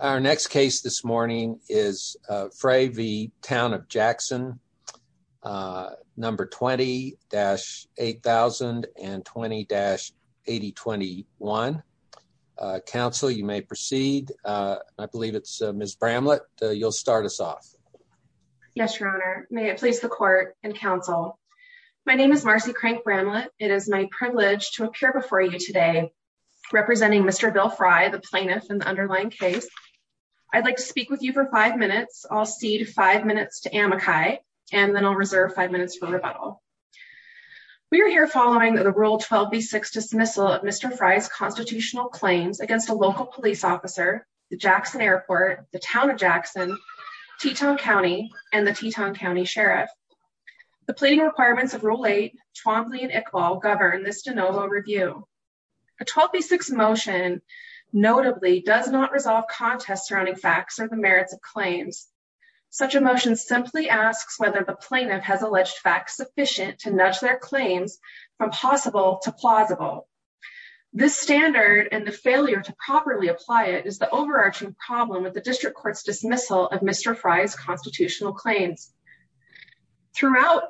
Our next case this morning is Frey v. Town of Jackson, number 20-8000 and 20-8021. Counsel, you may proceed. I believe it's Ms. Bramlett. You'll start us off. Yes, Your Honor. May it please the court and counsel. My name is Marcy Crank Bramlett. It is my privilege to appear before you today representing Mr. Bill Frey, the plaintiff in the underlying case. I'd like to speak with you for five minutes. I'll cede five minutes to Amakai and then I'll reserve five minutes for rebuttal. We are here following the Rule 12b6 dismissal of Mr. Frey's constitutional claims against a local police officer, the Jackson Airport, the Town of Jackson, Teton County, and the Teton County Sheriff. The pleading requirements of Rule 8, Twombly, and Iqbal govern this de novo review. A 12b6 motion notably does not resolve contests surrounding facts or the merits of claims. Such a motion simply asks whether the plaintiff has alleged facts sufficient to nudge their claims from possible to plausible. This standard and the failure to properly apply it is the overarching problem with the district court's dismissal of Mr. Frey's constitutional claims. Throughout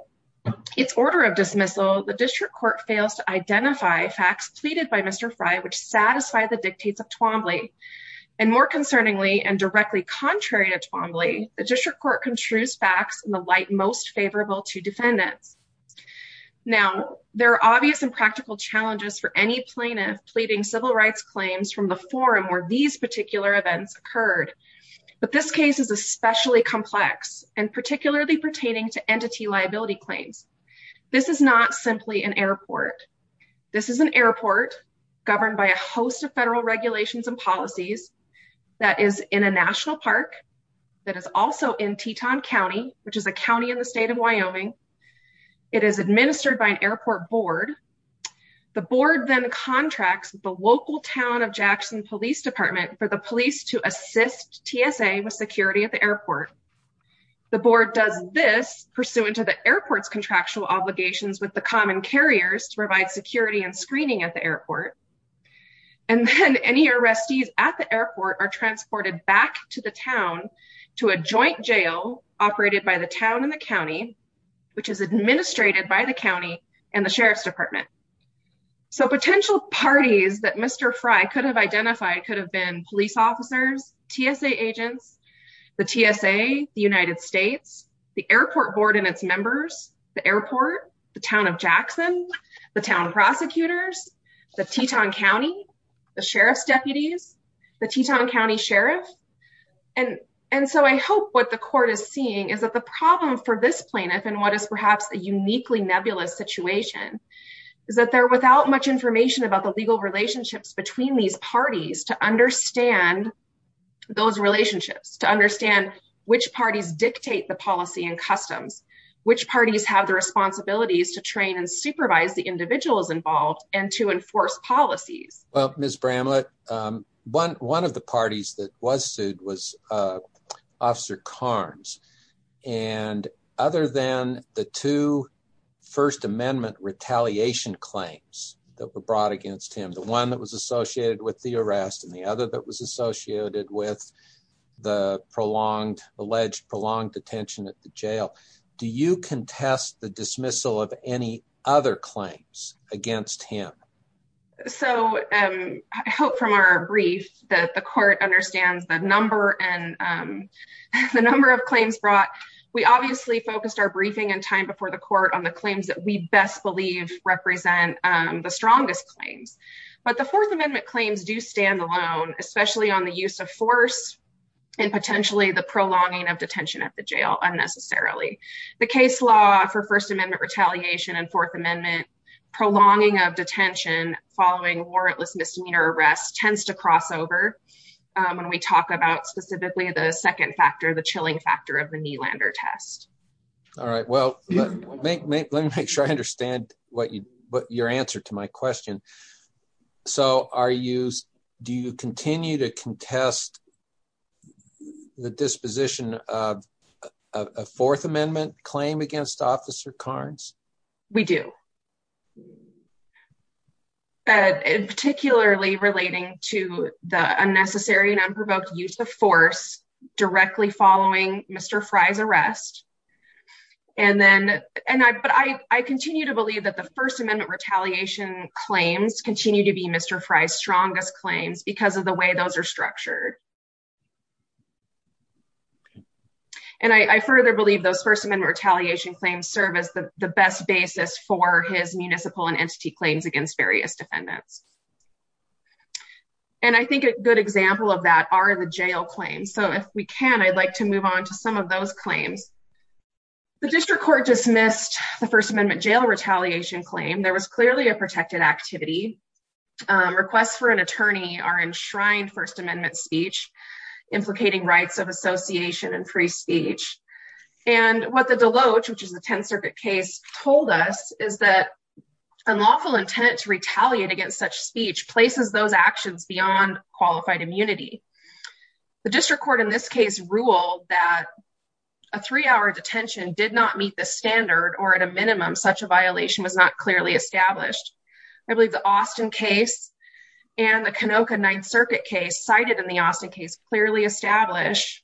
its order of dismissal, the district court fails to identify facts pleaded by Mr. Frey which satisfy the dictates of Twombly. And more concerningly, and directly contrary to Twombly, the district court construes facts in the light most favorable to defendants. Now, there are obvious and practical challenges for any plaintiff pleading civil rights claims from the forum where these particular events occurred. But this case is especially complex and particularly pertaining to entity liability claims. This is not simply an airport. This is an airport governed by a host of federal regulations and policies that is in a national park that is also in Teton County, which is a county in the state of Wyoming. It is administered by an airport board. The board then contracts the local town of Jackson Police Department for the police to assist TSA with security at the airport. The board does this pursuant to the airport's contractual obligations with the common carriers to provide security and screening at the airport. And then any arrestees at the airport are transported back to the town to a joint jail operated by the town and the county, which is administrated by the county and the sheriff's department. So potential parties that Mr. Frey could have identified could have been police officers, TSA agents, the TSA, the United States, the airport board and its members, the airport, the town of Jackson, the town prosecutors, the Teton County, the sheriff's department. And so I hope what the court is seeing is that the problem for this plaintiff and what is perhaps a uniquely nebulous situation is that they're without much information about the legal relationships between these parties to understand those relationships, to understand which parties dictate the policy and customs, which parties have the responsibilities to train and supervise the individuals involved and to enforce policies. Well, Ms. Bramlett, one of the parties that was sued was Officer Carnes. And other than the two First Amendment retaliation claims that were brought against him, the one that was associated with the arrest and the other that was associated with the alleged prolonged detention at the jail, do you contest the dismissal of any other claims against him? So I hope from our brief that the court understands the number and the number of claims brought. We obviously focused our briefing and time before the court on the claims that we best believe represent the strongest claims. But the Fourth Amendment claims do stand alone, especially on the use of force and potentially the prolonging of detention at the jail, unnecessarily. The case law for First Amendment retaliation and Fourth Amendment prolonging of detention following warrantless misdemeanor arrest tends to cross over when we talk about specifically the second factor, the chilling factor of the Nylander test. All right. Well, let me make sure I understand what you what your answer to my question. So are you do you continue to contest the disposition of a Fourth Amendment claim against Officer Carnes? We do. Particularly relating to the unnecessary and unprovoked use of force directly following Mr. Fry's arrest. And then and I but I continue to believe that the First Amendment retaliation claims continue to be Mr. Fry's strongest claims because of the way those are structured. And I further believe those First Amendment retaliation claims serve as the best basis for his municipal and entity claims against various defendants. And I think a good example of that are the jail claims. So if we can, I'd like to move on to some of those claims. The district court dismissed the First Amendment jail retaliation claim. There was clearly a protected activity. Requests for an attorney are enshrined First Amendment speech implicating rights of association and free speech. And what the Deloach, which is the 10th Circuit case, told us is that unlawful intent to retaliate against such speech places those actions beyond qualified immunity. The district court in this case ruled that a three hour detention did not meet the standard or at a minimum, such a violation was not clearly established. I believe the Austin case and the Canoka Ninth Circuit case cited in the Austin case clearly establish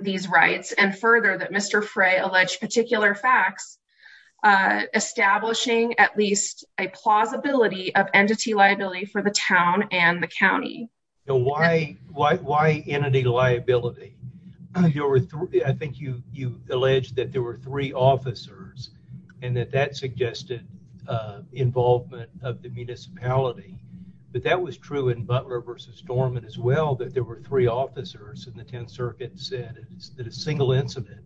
these rights. And further, that Mr. Fray alleged particular facts establishing at least a plausibility of entity liability for the town and the county. Now, why why why entity liability? I think you you alleged that there were three officers and that that suggested involvement of the municipality. But that was true in Butler versus Storm and as well that there were three officers in the 10th Circuit said that a single incident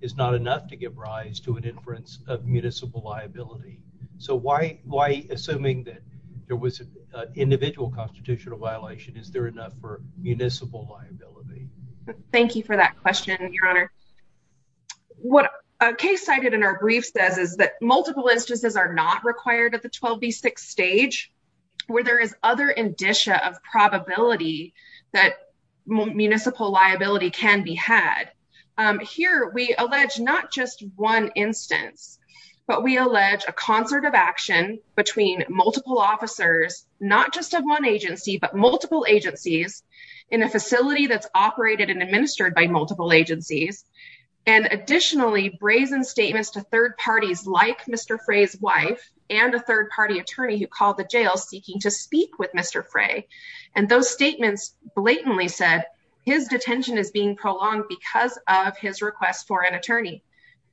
is not enough to give rise to an inference of municipal liability. So why? Why? Assuming that there was an individual constitutional violation, is there enough for municipal liability? Thank you for that question, Your Honor. What a case cited in our brief says is that multiple instances are not required at the 12B6 stage, where there is other indicia of probability that municipal liability can be had. Here we allege not just one instance, but we allege a concert of action between multiple officers, not just of one agency, but multiple agencies in a facility that's operated and administered by additionally brazen statements to third parties like Mr. Fray's wife and a third party attorney who called the jail seeking to speak with Mr. Fray. And those statements blatantly said his detention is being prolonged because of his request for an attorney.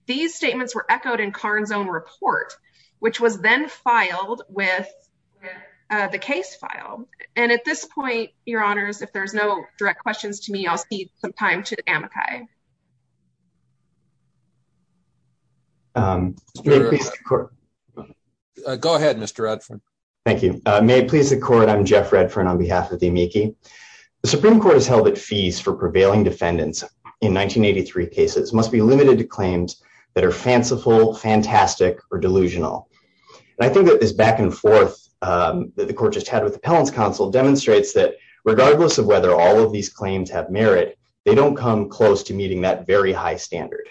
These statements were echoed in Karn's own report, which was then filed with the case file. And at this point, Your Honors, if there's no direct questions to me, I'll see some time to Amakai. Go ahead, Mr. Redford. Thank you. May it please the court. I'm Jeff Redford on behalf of the amici. The Supreme Court has held that fees for prevailing defendants in 1983 cases must be limited to claims that are fanciful, fantastic or delusional. And I think that this back and forth that the court just had with the appellant's counsel demonstrates that regardless of whether all of these claims have merit, they don't come close to meeting that very high standard.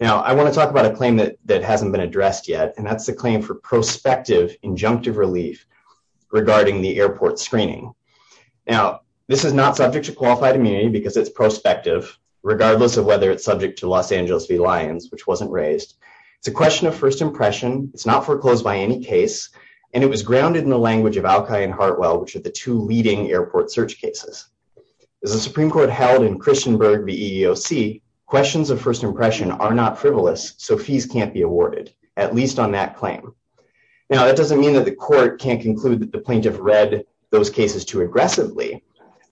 Now, I want to talk about a claim that hasn't been addressed yet, and that's the claim for prospective injunctive relief regarding the airport screening. Now, this is not subject to qualified immunity because it's prospective, regardless of whether it's subject to Los Angeles v. Lyons, which wasn't raised. It's a question of first impression. It's not foreclosed by any case, and it was grounded in the language of Alki and Hartwell, which are the two leading airport cases. As the Supreme Court held in Christian Berg v. EEOC, questions of first impression are not frivolous, so fees can't be awarded, at least on that claim. Now, that doesn't mean that the court can't conclude that the plaintiff read those cases too aggressively,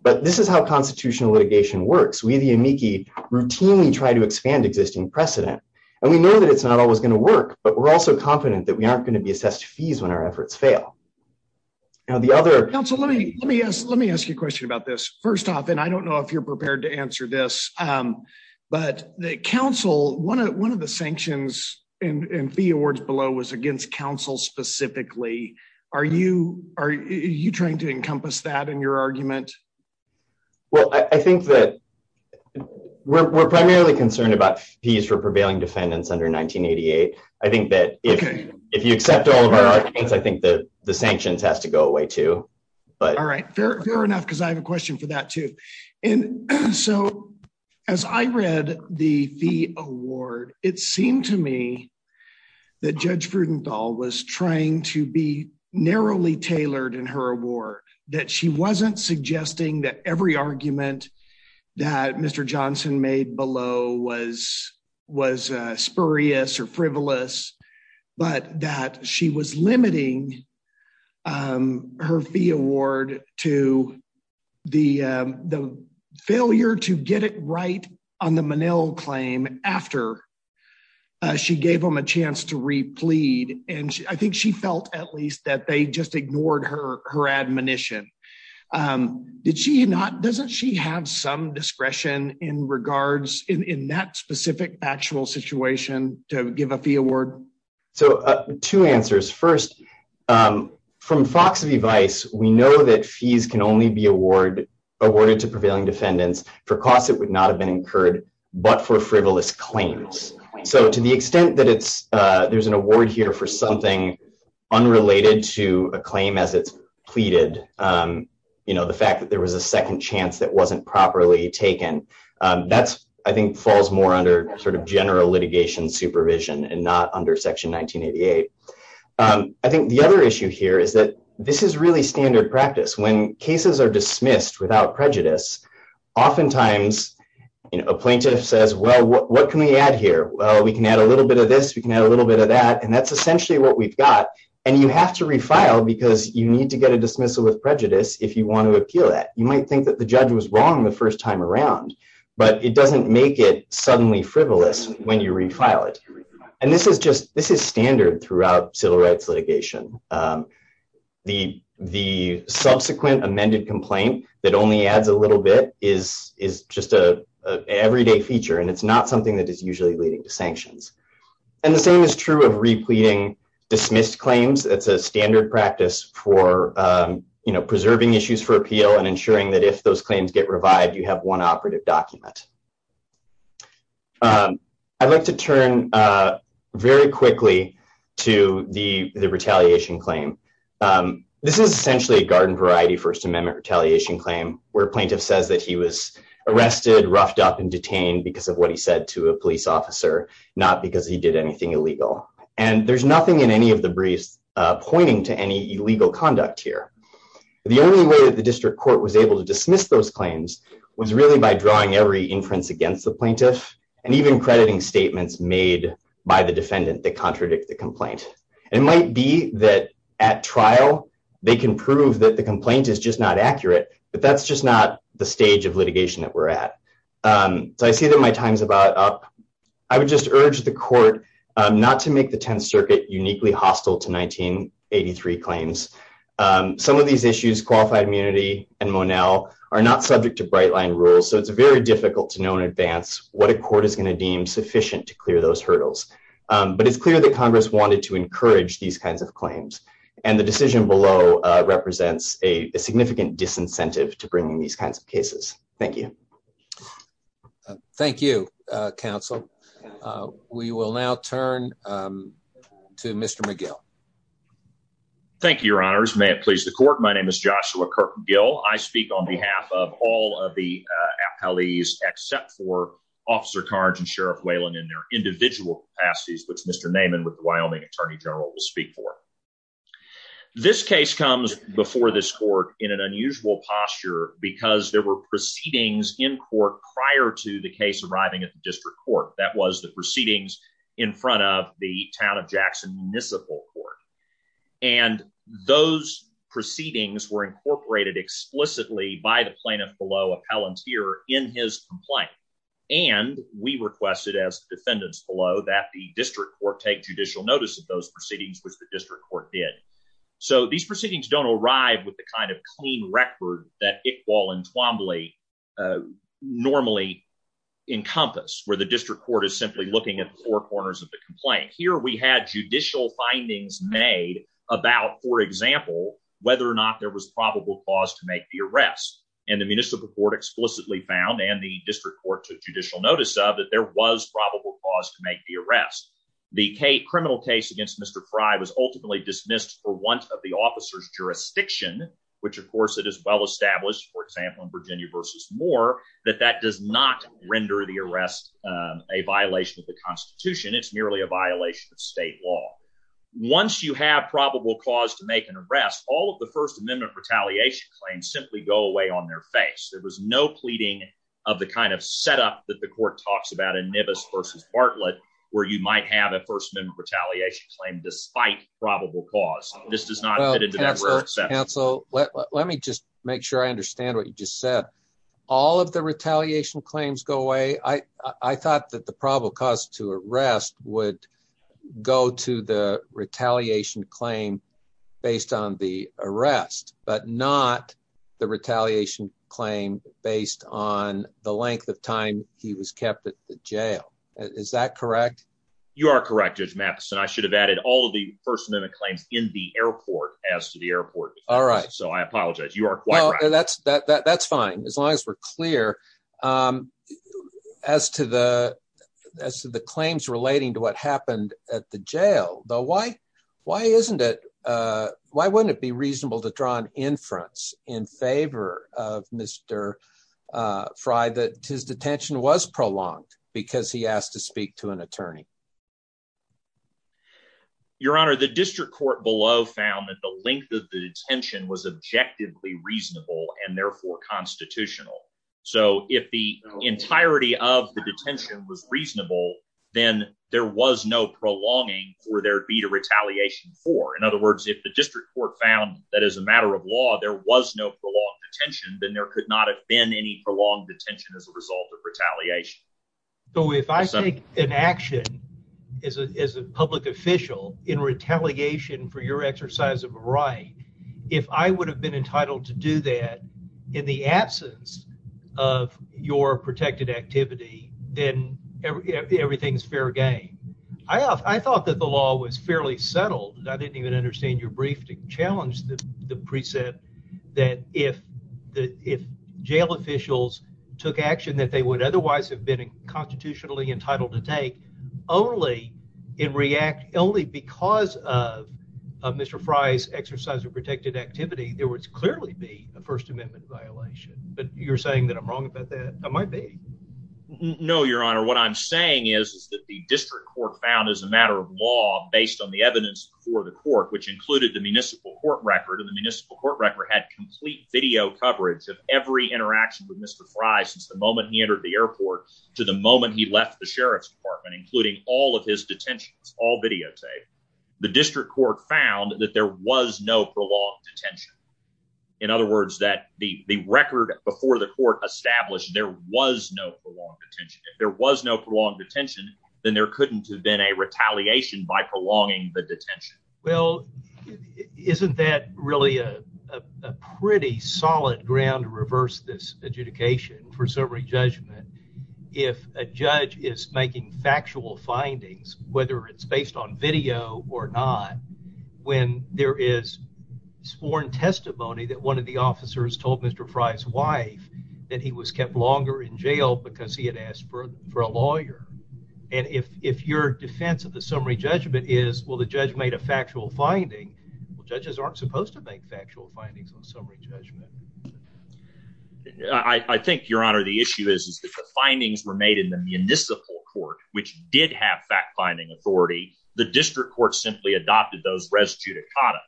but this is how constitutional litigation works. We, the amici, routinely try to expand existing precedent, and we know that it's not always going to work, but we're also confident that we aren't going to be assessed fees when our efforts fail. Now, the other- Counsel, let me ask you a question about this. First off, and I don't know if you're prepared to answer this, but the counsel, one of the sanctions and fee awards below was against counsel specifically. Are you trying to encompass that in your argument? Well, I think that we're primarily concerned about fees for prevailing defendants under 1988. I think that if you accept all of our arguments, I think that the sanctions has to go away too, but- All right. Fair enough, because I have a question for that too. And so, as I read the fee award, it seemed to me that Judge Frudenthal was trying to be narrowly tailored in her award, that she wasn't suggesting that every argument that Mr. Johnson made below was spurious or frivolous, but that she was limiting her fee award to the failure to get it right on the Menil claim after she gave them a chance. Doesn't she have some discretion in that specific actual situation to give a fee award? So, two answers. First, from Fox v. Vice, we know that fees can only be awarded to prevailing defendants for costs that would not have been incurred but for frivolous claims. So, to the extent that there's an award here for something unrelated to a claim as it's pleaded, the fact that there was a second chance that wasn't properly taken, that's, I think, falls more under sort of general litigation supervision and not under Section 1988. I think the other issue here is that this is really standard practice. When cases are dismissed without prejudice, oftentimes a plaintiff says, well, what can we add here? Well, we can add a little bit of this, we can add a little bit of that, and that's essentially what we've got. And you have to appeal that. You might think that the judge was wrong the first time around, but it doesn't make it suddenly frivolous when you refile it. And this is just standard throughout civil rights litigation. The subsequent amended complaint that only adds a little bit is just an everyday feature and it's not something that is usually leading to sanctions. And the same is true of ensuring that if those claims get revived, you have one operative document. I'd like to turn very quickly to the retaliation claim. This is essentially a garden variety First Amendment retaliation claim where plaintiff says that he was arrested, roughed up, and detained because of what he said to a police officer, not because he did anything illegal. And there's nothing in any of the briefs pointing to any illegal conduct here. The only way that the court was able to dismiss those claims was really by drawing every inference against the plaintiff, and even crediting statements made by the defendant that contradict the complaint. It might be that at trial, they can prove that the complaint is just not accurate, but that's just not the stage of litigation that we're at. So I see that my time's about up. I would just urge the court not to make the Tenth Circuit uniquely hostile to 1983 claims. Some of these issues, qualified immunity and Monell are not subject to Brightline rules, so it's very difficult to know in advance what a court is going to deem sufficient to clear those hurdles. But it's clear that Congress wanted to encourage these kinds of claims, and the decision below represents a significant disincentive to bringing these kinds of cases. Thank you. Thank you, Counsel. We will now turn to Mr. McGill. Thank you, Your Honors. May it please the court. My name is Joshua Kirk McGill. I speak on behalf of all of the appellees except for Officer Carnes and Sheriff Whalen in their individual capacities, which Mr. Naaman with the Wyoming Attorney General will speak for. This case comes before this court in an unusual posture because there were proceedings in court prior to the case arriving at the District Court. That was the proceedings in front of the Town of Jackson Municipal Court, and those proceedings were incorporated explicitly by the plaintiff below, Appellant Here, in his complaint. And we requested as defendants below that the District Court take judicial notice of those proceedings, which the District Court did. So these proceedings don't arrive with the kind of clean record that Iqbal and Twombly normally encompass, where the District Court is simply looking at the four corners of the complaint. Here we had judicial findings made about, for example, whether or not there was probable cause to make the arrest. And the Municipal Court explicitly found, and the District Court took judicial notice of, that there was probable cause to make the arrest. The criminal case against Mr. Frye was ultimately dismissed for want of the officer's jurisdiction, which of course it is well established, for example, in Virginia v. Moore, that that does not render the arrest a violation of the Constitution. It's merely a violation of state law. Once you have probable cause to make an arrest, all of the First Amendment retaliation claims simply go away on their face. There was no pleading of the kind of setup that the court talks about in Nibbas v. Bartlett, where you might have a First Amendment retaliation claim despite probable cause. This does not fit into that. Well, counsel, let me just make sure I understand what you just said. All of the retaliation claims go away. I thought that the probable cause to arrest would go to the retaliation claim based on the arrest, but not the retaliation claim based on the length of time he was kept at the jail. Is that correct? You are correct, Judge Mappes, and I should have added all of the First Amendment claims in the airport as to the airport, so I apologize. You are quite right. That's fine, as long as we're clear as to the claims relating to what happened at the jail, though why wouldn't it be reasonable to draw an inference in favor of Mr. Frye that his Your Honor, the district court below found that the length of the detention was objectively reasonable and therefore constitutional, so if the entirety of the detention was reasonable, then there was no prolonging for there to be a retaliation for. In other words, if the district court found that as a matter of law there was no prolonged detention, then there could not have been any prolonged detention as a result of retaliation. So if I take an action as a public official in retaliation for your exercise of right, if I would have been entitled to do that in the absence of your protected activity, then everything's fair game. I thought that the law was fairly settled, and I didn't even understand your brief to challenge the precept that if jail officials took action that they would otherwise have been constitutionally entitled to take only in react only because of Mr Frye's exercise of protected activity, there was clearly be a First Amendment violation. But you're saying that I'm wrong about that. I might be. No, Your Honor, what I'm saying is that the district court found as a matter of law based on the evidence for the court, which included the municipal court record of the municipal court record, had complete video coverage of every interaction with Mr Frye since the moment he entered the airport to the moment he left the Sheriff's Department, including all of his detentions, all videotaped. The district court found that there was no prolonged detention. In other words, that the record before the court established there was no prolonged detention. If there was no prolonged detention, then there couldn't have been a retaliation by prolonging the detention. Well, isn't that really a pretty solid ground to reverse this adjudication for summary judgment? If a judge is making factual findings, whether it's based on video or not, when there is sworn testimony that one of the officers told Mr Frye's wife that he was kept longer in jail because he had asked for for a lawyer. And if if your defense of the summary judgment is, well, the judge made a factual finding, judges aren't supposed to make factual findings on summary judgment. I think, Your Honor, the issue is that the findings were made in the municipal court, which did have fact finding authority. The district court simply adopted those res judicata.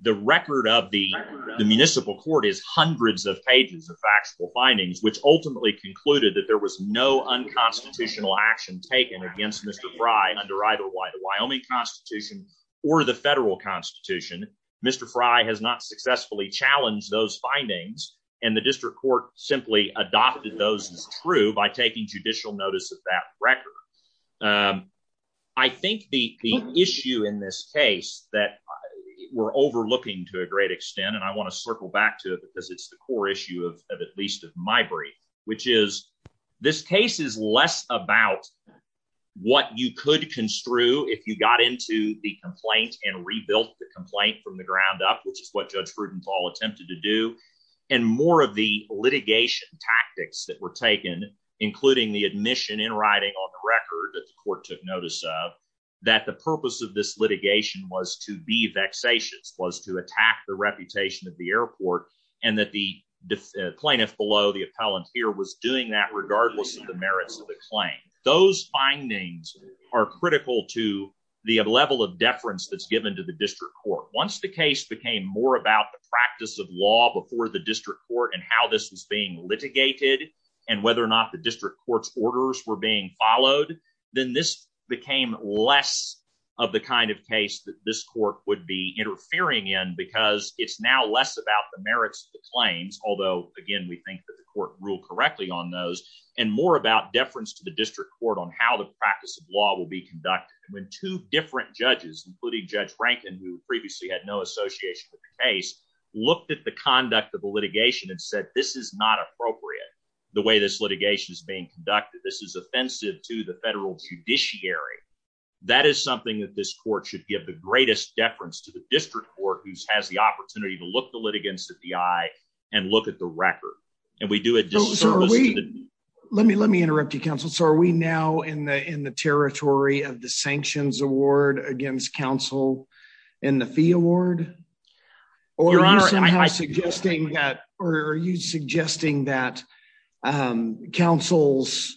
The record of the municipal court is hundreds of pages of factual findings, which ultimately concluded that there was no unconstitutional action taken against Mr Frye under either the Wyoming Constitution or the federal constitution. Mr Frye has not successfully challenged those findings, and the district court simply adopted those as true by taking judicial notice of that record. I think the issue in this case that we're overlooking to a great extent, and I want to circle back to it because it's the core issue of at least of my brief, which is this case is less about what you could construe if you got into the complaint and rebuilt the complaint from the ground up, which is what Judge Fruedenthal attempted to do, and more of the litigation tactics that were taken, including the admission in writing on the record that the court took notice of, that the purpose of this litigation was to be vexatious, was to attack the reputation of the airport, and that the plaintiff below, the appellant here, was doing that regardless of the merits of the claim. Those findings are critical to the level of deference that's given to the district court. Once the case became more about the practice of law before the district court and how this was being litigated and whether or not the district court's orders were being followed, then this became less of the kind of case that this court would be interfering in because it's now less about the merits of the claims, although, again, we think that the court ruled correctly on those, and more about deference to the district court on how the practice of law will be conducted. When two different judges, including Judge Rankin, who previously had no association with the case, looked at the conduct of the litigation and said, this is not appropriate, the way this litigation is being conducted. This is offensive to the district court who has the opportunity to look the litigants in the eye and look at the record. Let me interrupt you, counsel. Are we now in the territory of the sanctions award against counsel and the fee award? Or are you suggesting that counsel's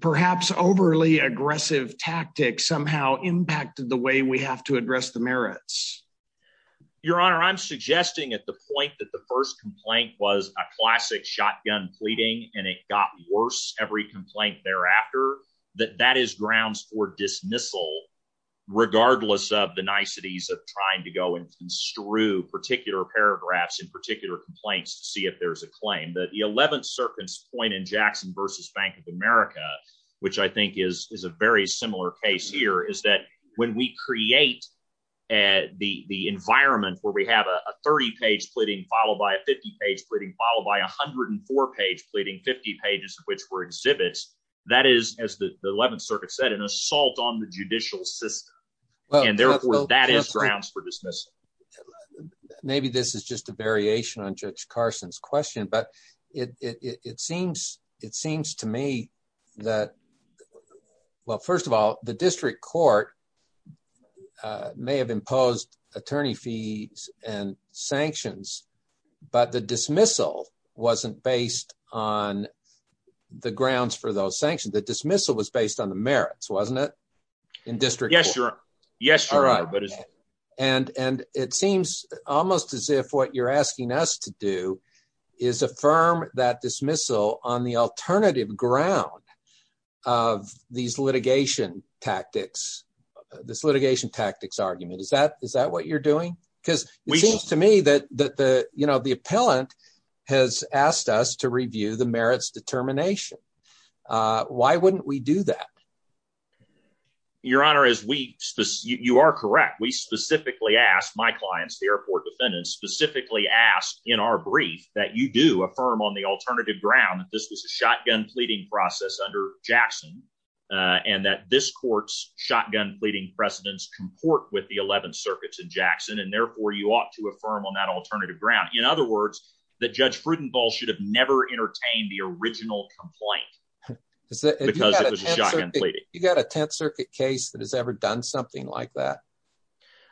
perhaps overly aggressive tactic somehow impacted the way we have to address the merits? Your Honor, I'm suggesting at the point that the first complaint was a classic shotgun pleading, and it got worse every complaint thereafter, that that is grounds for dismissal, regardless of the niceties of trying to go and construe particular paragraphs in particular complaints to see if there's a claim. The 11th Circuit's point in Jackson v. Bank of America, which I think is a very similar case here, is that when we create the environment where we have a 30-page pleading followed by a 50-page pleading, followed by a 104-page pleading, 50 pages of which were exhibits, that is, as the 11th Circuit said, an assault on the judicial system. And therefore, that is grounds for dismissal. Maybe this is just a variation on Judge Carson's question, but it seems to me that, well, first of all, the district court may have imposed attorney fees and sanctions, but the dismissal wasn't based on the grounds for those sanctions. The dismissal was based on the merits, wasn't it, in district court? Yes, Your Honor. All right. And it seems almost as if what you're asking us to do is affirm that dismissal on the alternative ground of these litigation tactics, this litigation tactics argument. Is that what you're doing? Because it seems to me that the appellant has asked us to review the merits determination. Why wouldn't we do that? Your Honor, you are correct. We specifically asked my clients, the airport defendants, specifically asked in our brief that you do affirm on the alternative ground that this was a shotgun pleading process under Jackson, and that this court's shotgun pleading precedents comport with the 11th Circuit's in Jackson, and therefore, you ought to affirm on that alternative ground. In other words, that Judge Fruit and Ball should have never entertained the original complaint because it was a shotgun pleading. You got a 10th Circuit case that has ever done something like that?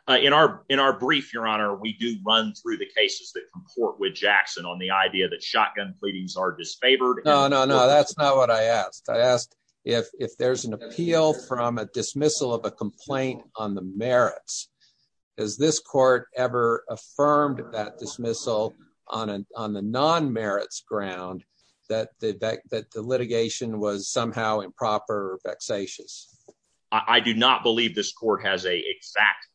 In our brief, Your Honor, we do run through the cases that comport with Jackson on the idea that shotgun pleadings are disfavored. No, no, no. That's not what I asked. I asked if there's an appeal from a dismissal of a complaint on the merits. Has this court ever affirmed that dismissal on the non-merits ground that the litigation was somehow improper or vexatious? I do not believe this court has an exact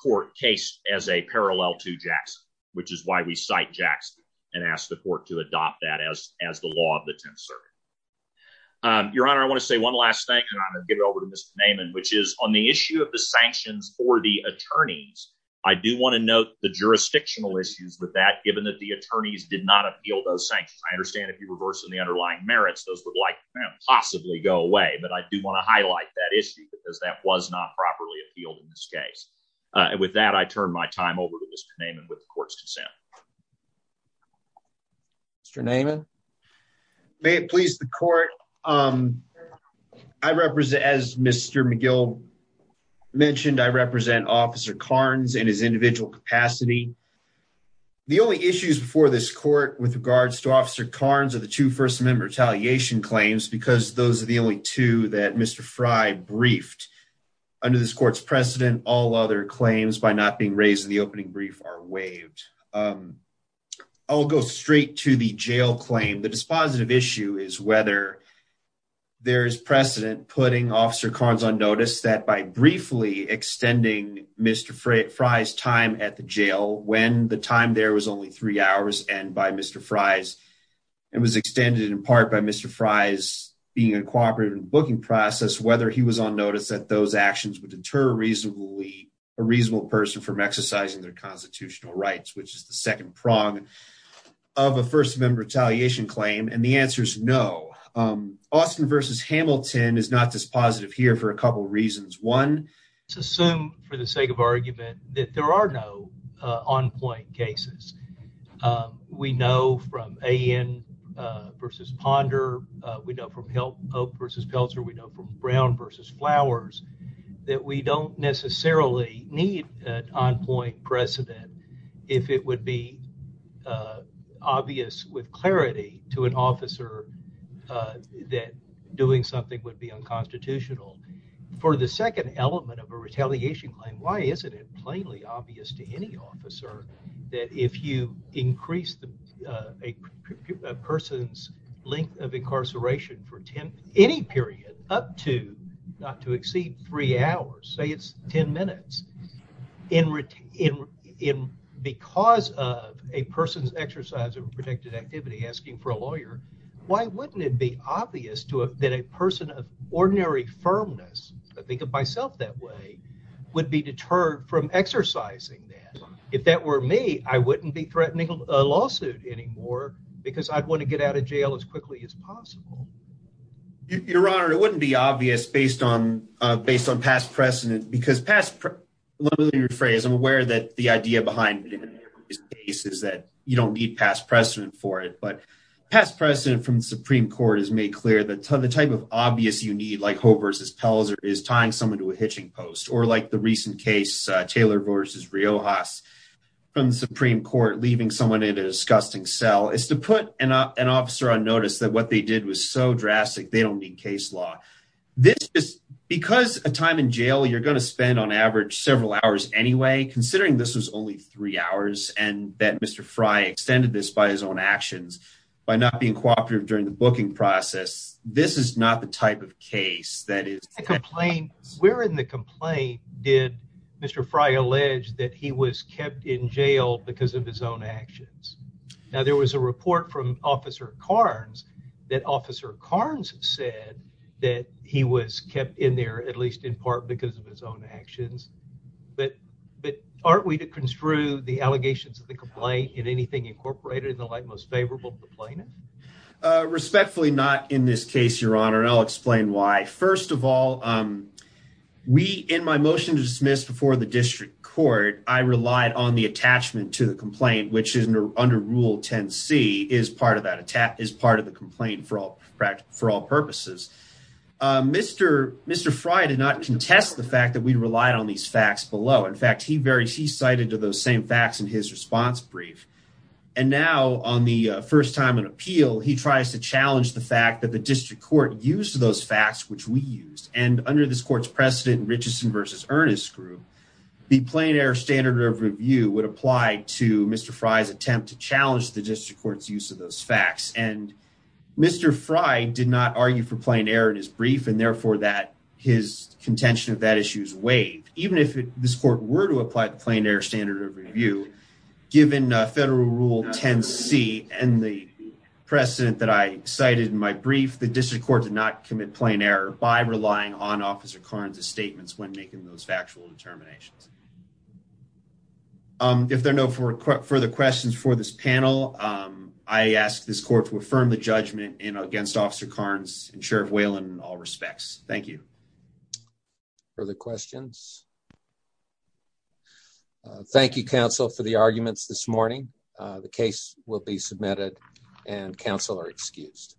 court case as a parallel to Jackson, which is why we cite Jackson and ask the court to adopt that as the law of the 10th Circuit. Your Honor, I want to say one last thing, and I'm going to give it over to Mr. Naaman, which is on the issue of the sanctions for the attorneys, I do want to note the jurisdictional issues with that, given that the attorneys did not appeal those sanctions. I understand if you reverse the underlying merits, those would possibly go away, but I do want to highlight that issue because that was not properly appealed in this case. With that, I turn my time over to Mr. Naaman with the court's consent. Mr. Naaman? May it please the court, as Mr. McGill mentioned, I represent Officer Carnes in his individual capacity. The only issues before this court with regards to Officer Carnes are the two First Amendment retaliation claims because those are the only two that Mr. Frey briefed. Under this court's precedent, all other claims by not being raised in the opening brief are waived. I'll go straight to the jail claim. The dispositive issue is whether there is precedent putting Officer Carnes on notice that by briefly extending Mr. Frey's time at the jail, when the time there was only three hours, and by Mr. Frey's, and was extended in part by Mr. Frey's being uncooperative in the booking process, whether he was on notice that those actions would deter a reasonable person from exercising their constitutional rights, which is the second prong of a First Amendment retaliation claim, and the answer is no. Austin v. Hamilton is not dispositive here for a couple reasons. One, let's assume for the sake of argument that there are no on-point cases. We know from A.N. v. Ponder. We know from Hope v. Pelzer. We know from Brown v. Flowers that we don't necessarily need an on-point precedent if it would be obvious with clarity to an officer that doing something would be unconstitutional. For the second element of a retaliation claim, why isn't it plainly obvious to any officer that if you increase a person's length of incarceration for any period up to, not to exceed, three hours, say it's ten minutes, in because of a person's exercise of protected activity asking for a lawyer, why wouldn't it be obvious that a person of ordinary firmness, I think of myself that way, would be deterred from exercising that? If that were me, I wouldn't be threatening a lawsuit anymore because I'd want to get out of jail as quickly as possible. Your Honor, it wouldn't be obvious based on past precedent. Let me rephrase. I'm aware that the idea behind it in every case is that you don't need past precedent for it. But past precedent from the Supreme Court has made clear that the type of obvious you need, like Hope v. Pelzer, is tying someone to a hitching post. Or like the recent case, Taylor v. Riojas, from the Supreme Court, leaving someone in a disgusting cell is to put an officer on notice that what they did was so drastic, they don't need case law. Because a time in jail, you're going to spend on average several hours anyway, considering this was only three hours and that Mr. Fry extended this by his own actions, by not being cooperative during the booking process, this is not the type of case that is- Where in the complaint did Mr. Fry allege that he was that Officer Carnes said that he was kept in there, at least in part because of his own actions? But aren't we to construe the allegations of the complaint in anything incorporated in the light most favorable to the plaintiff? Respectfully, not in this case, Your Honor, and I'll explain why. First of all, in my motion to dismiss before the district court, I relied on attachment to the complaint, which is under Rule 10c, is part of the complaint for all purposes. Mr. Fry did not contest the fact that we relied on these facts below. In fact, he cited those same facts in his response brief. And now on the first time in appeal, he tries to challenge the fact that the district court used those facts which we used. And under this court's precedent, Richardson v. Ernest group, the plain error standard of review would apply to Mr. Fry's attempt to challenge the district court's use of those facts. And Mr. Fry did not argue for plain error in his brief, and therefore that his contention of that issue is waived. Even if this court were to apply the plain error standard of review, given Federal Rule 10c and the precedent that I cited in my brief, the district court did not commit plain error by relying on Officer Carnes' statements when making those factual determinations. If there are no further questions for this panel, I ask this court to affirm the judgment against Officer Carnes and Sheriff Whalen in all respects. Thank you. Further questions? Thank you, counsel, for the arguments this morning. The case will be submitted and counsel are excused.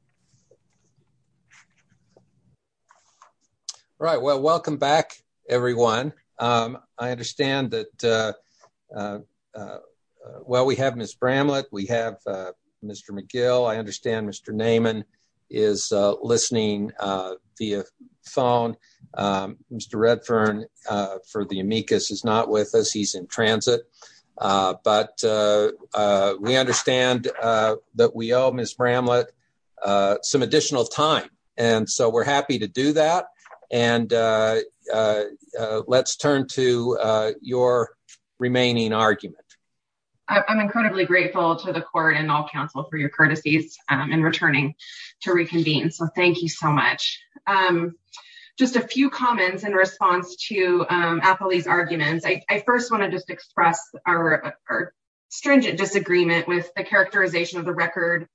All right, well, welcome back, everyone. I understand that, well, we have Ms. Bramlett, we have Mr. McGill. I understand Mr. Naiman is listening via phone. Mr. Redfern for the amicus is not with us. He's in transit. But we understand that we owe Ms. Bramlett some additional time. And so we're happy to do that. And let's turn to your remaining argument. I'm incredibly grateful to the court and all counsel for your courtesies in returning to reconvene. So thank you so much. Just a few comments in response to Apolli's arguments. I first want to just express our stringent disagreement with the characterization of the record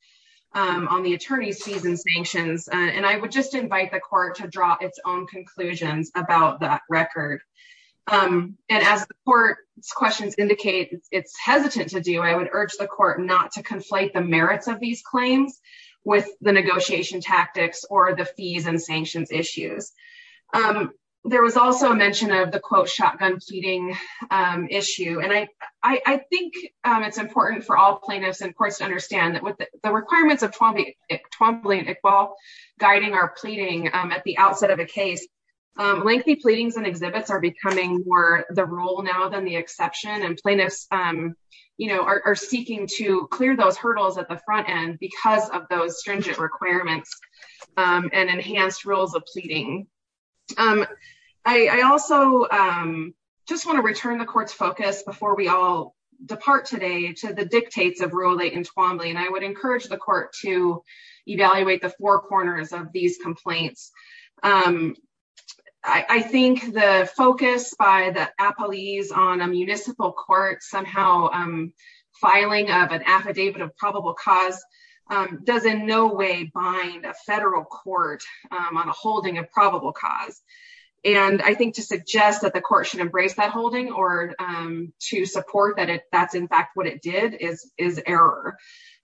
on the attorney's fees and sanctions. And I would just invite the court to draw its own conclusions about that record. And as the court's questions indicate it's hesitant to do, I would urge the court not to conflate the merits of these claims with the negotiation tactics or the fees and sanctions issues. There was also a mention of the quote shotgun pleading issue. And I think it's important for all plaintiffs and courts to understand that with the requirements of guiding our pleading at the outset of a case, lengthy pleadings and exhibits are becoming more the rule now than the exception. And plaintiffs are seeking to clear those hurdles at the front end because of those stringent requirements and enhanced rules of pleading. I also just want to return the court's focus before we all depart today to the dictates of Rural 8 and Twombly. And I would encourage the court to evaluate the four corners of these complaints. I think the focus by the Apolli's on a municipal court somehow filing of an affidavit of probable cause does in no way bind a federal court on a holding of probable cause. And I think to suggest that the court should embrace that holding or to support that it that's in fact what it did is error.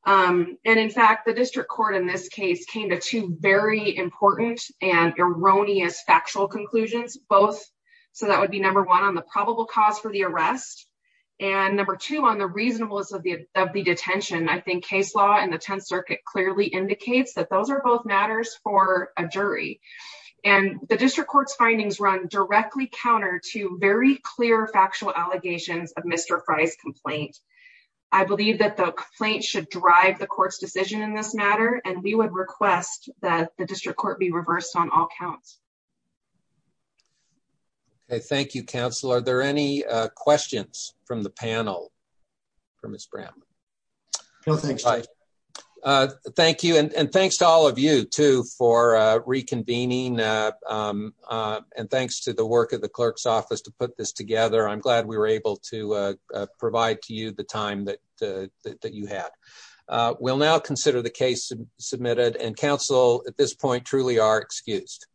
And in fact the district court in this case came to two very important and erroneous factual conclusions both so that would be number one on the probable cause for the arrest and number two on the reasonableness of the of the detention. I think case law and the 10th circuit clearly indicates that those are both matters for a jury. And the district court's findings run directly counter to very clear factual allegations of Mr. Fry's complaint. I believe that the complaint should drive the court's decision in this matter and we would request that the district court be reversed on all counts. Okay thank you counsel. Are there any questions from the panel for Ms. Brown? No thanks. Thank you and thanks to all of you too for reconvening and thanks to the work of the clerk's office to put this together. I'm glad we were able to provide to you the time that you had. We'll now consider the case submitted and counsel at this point truly are excused.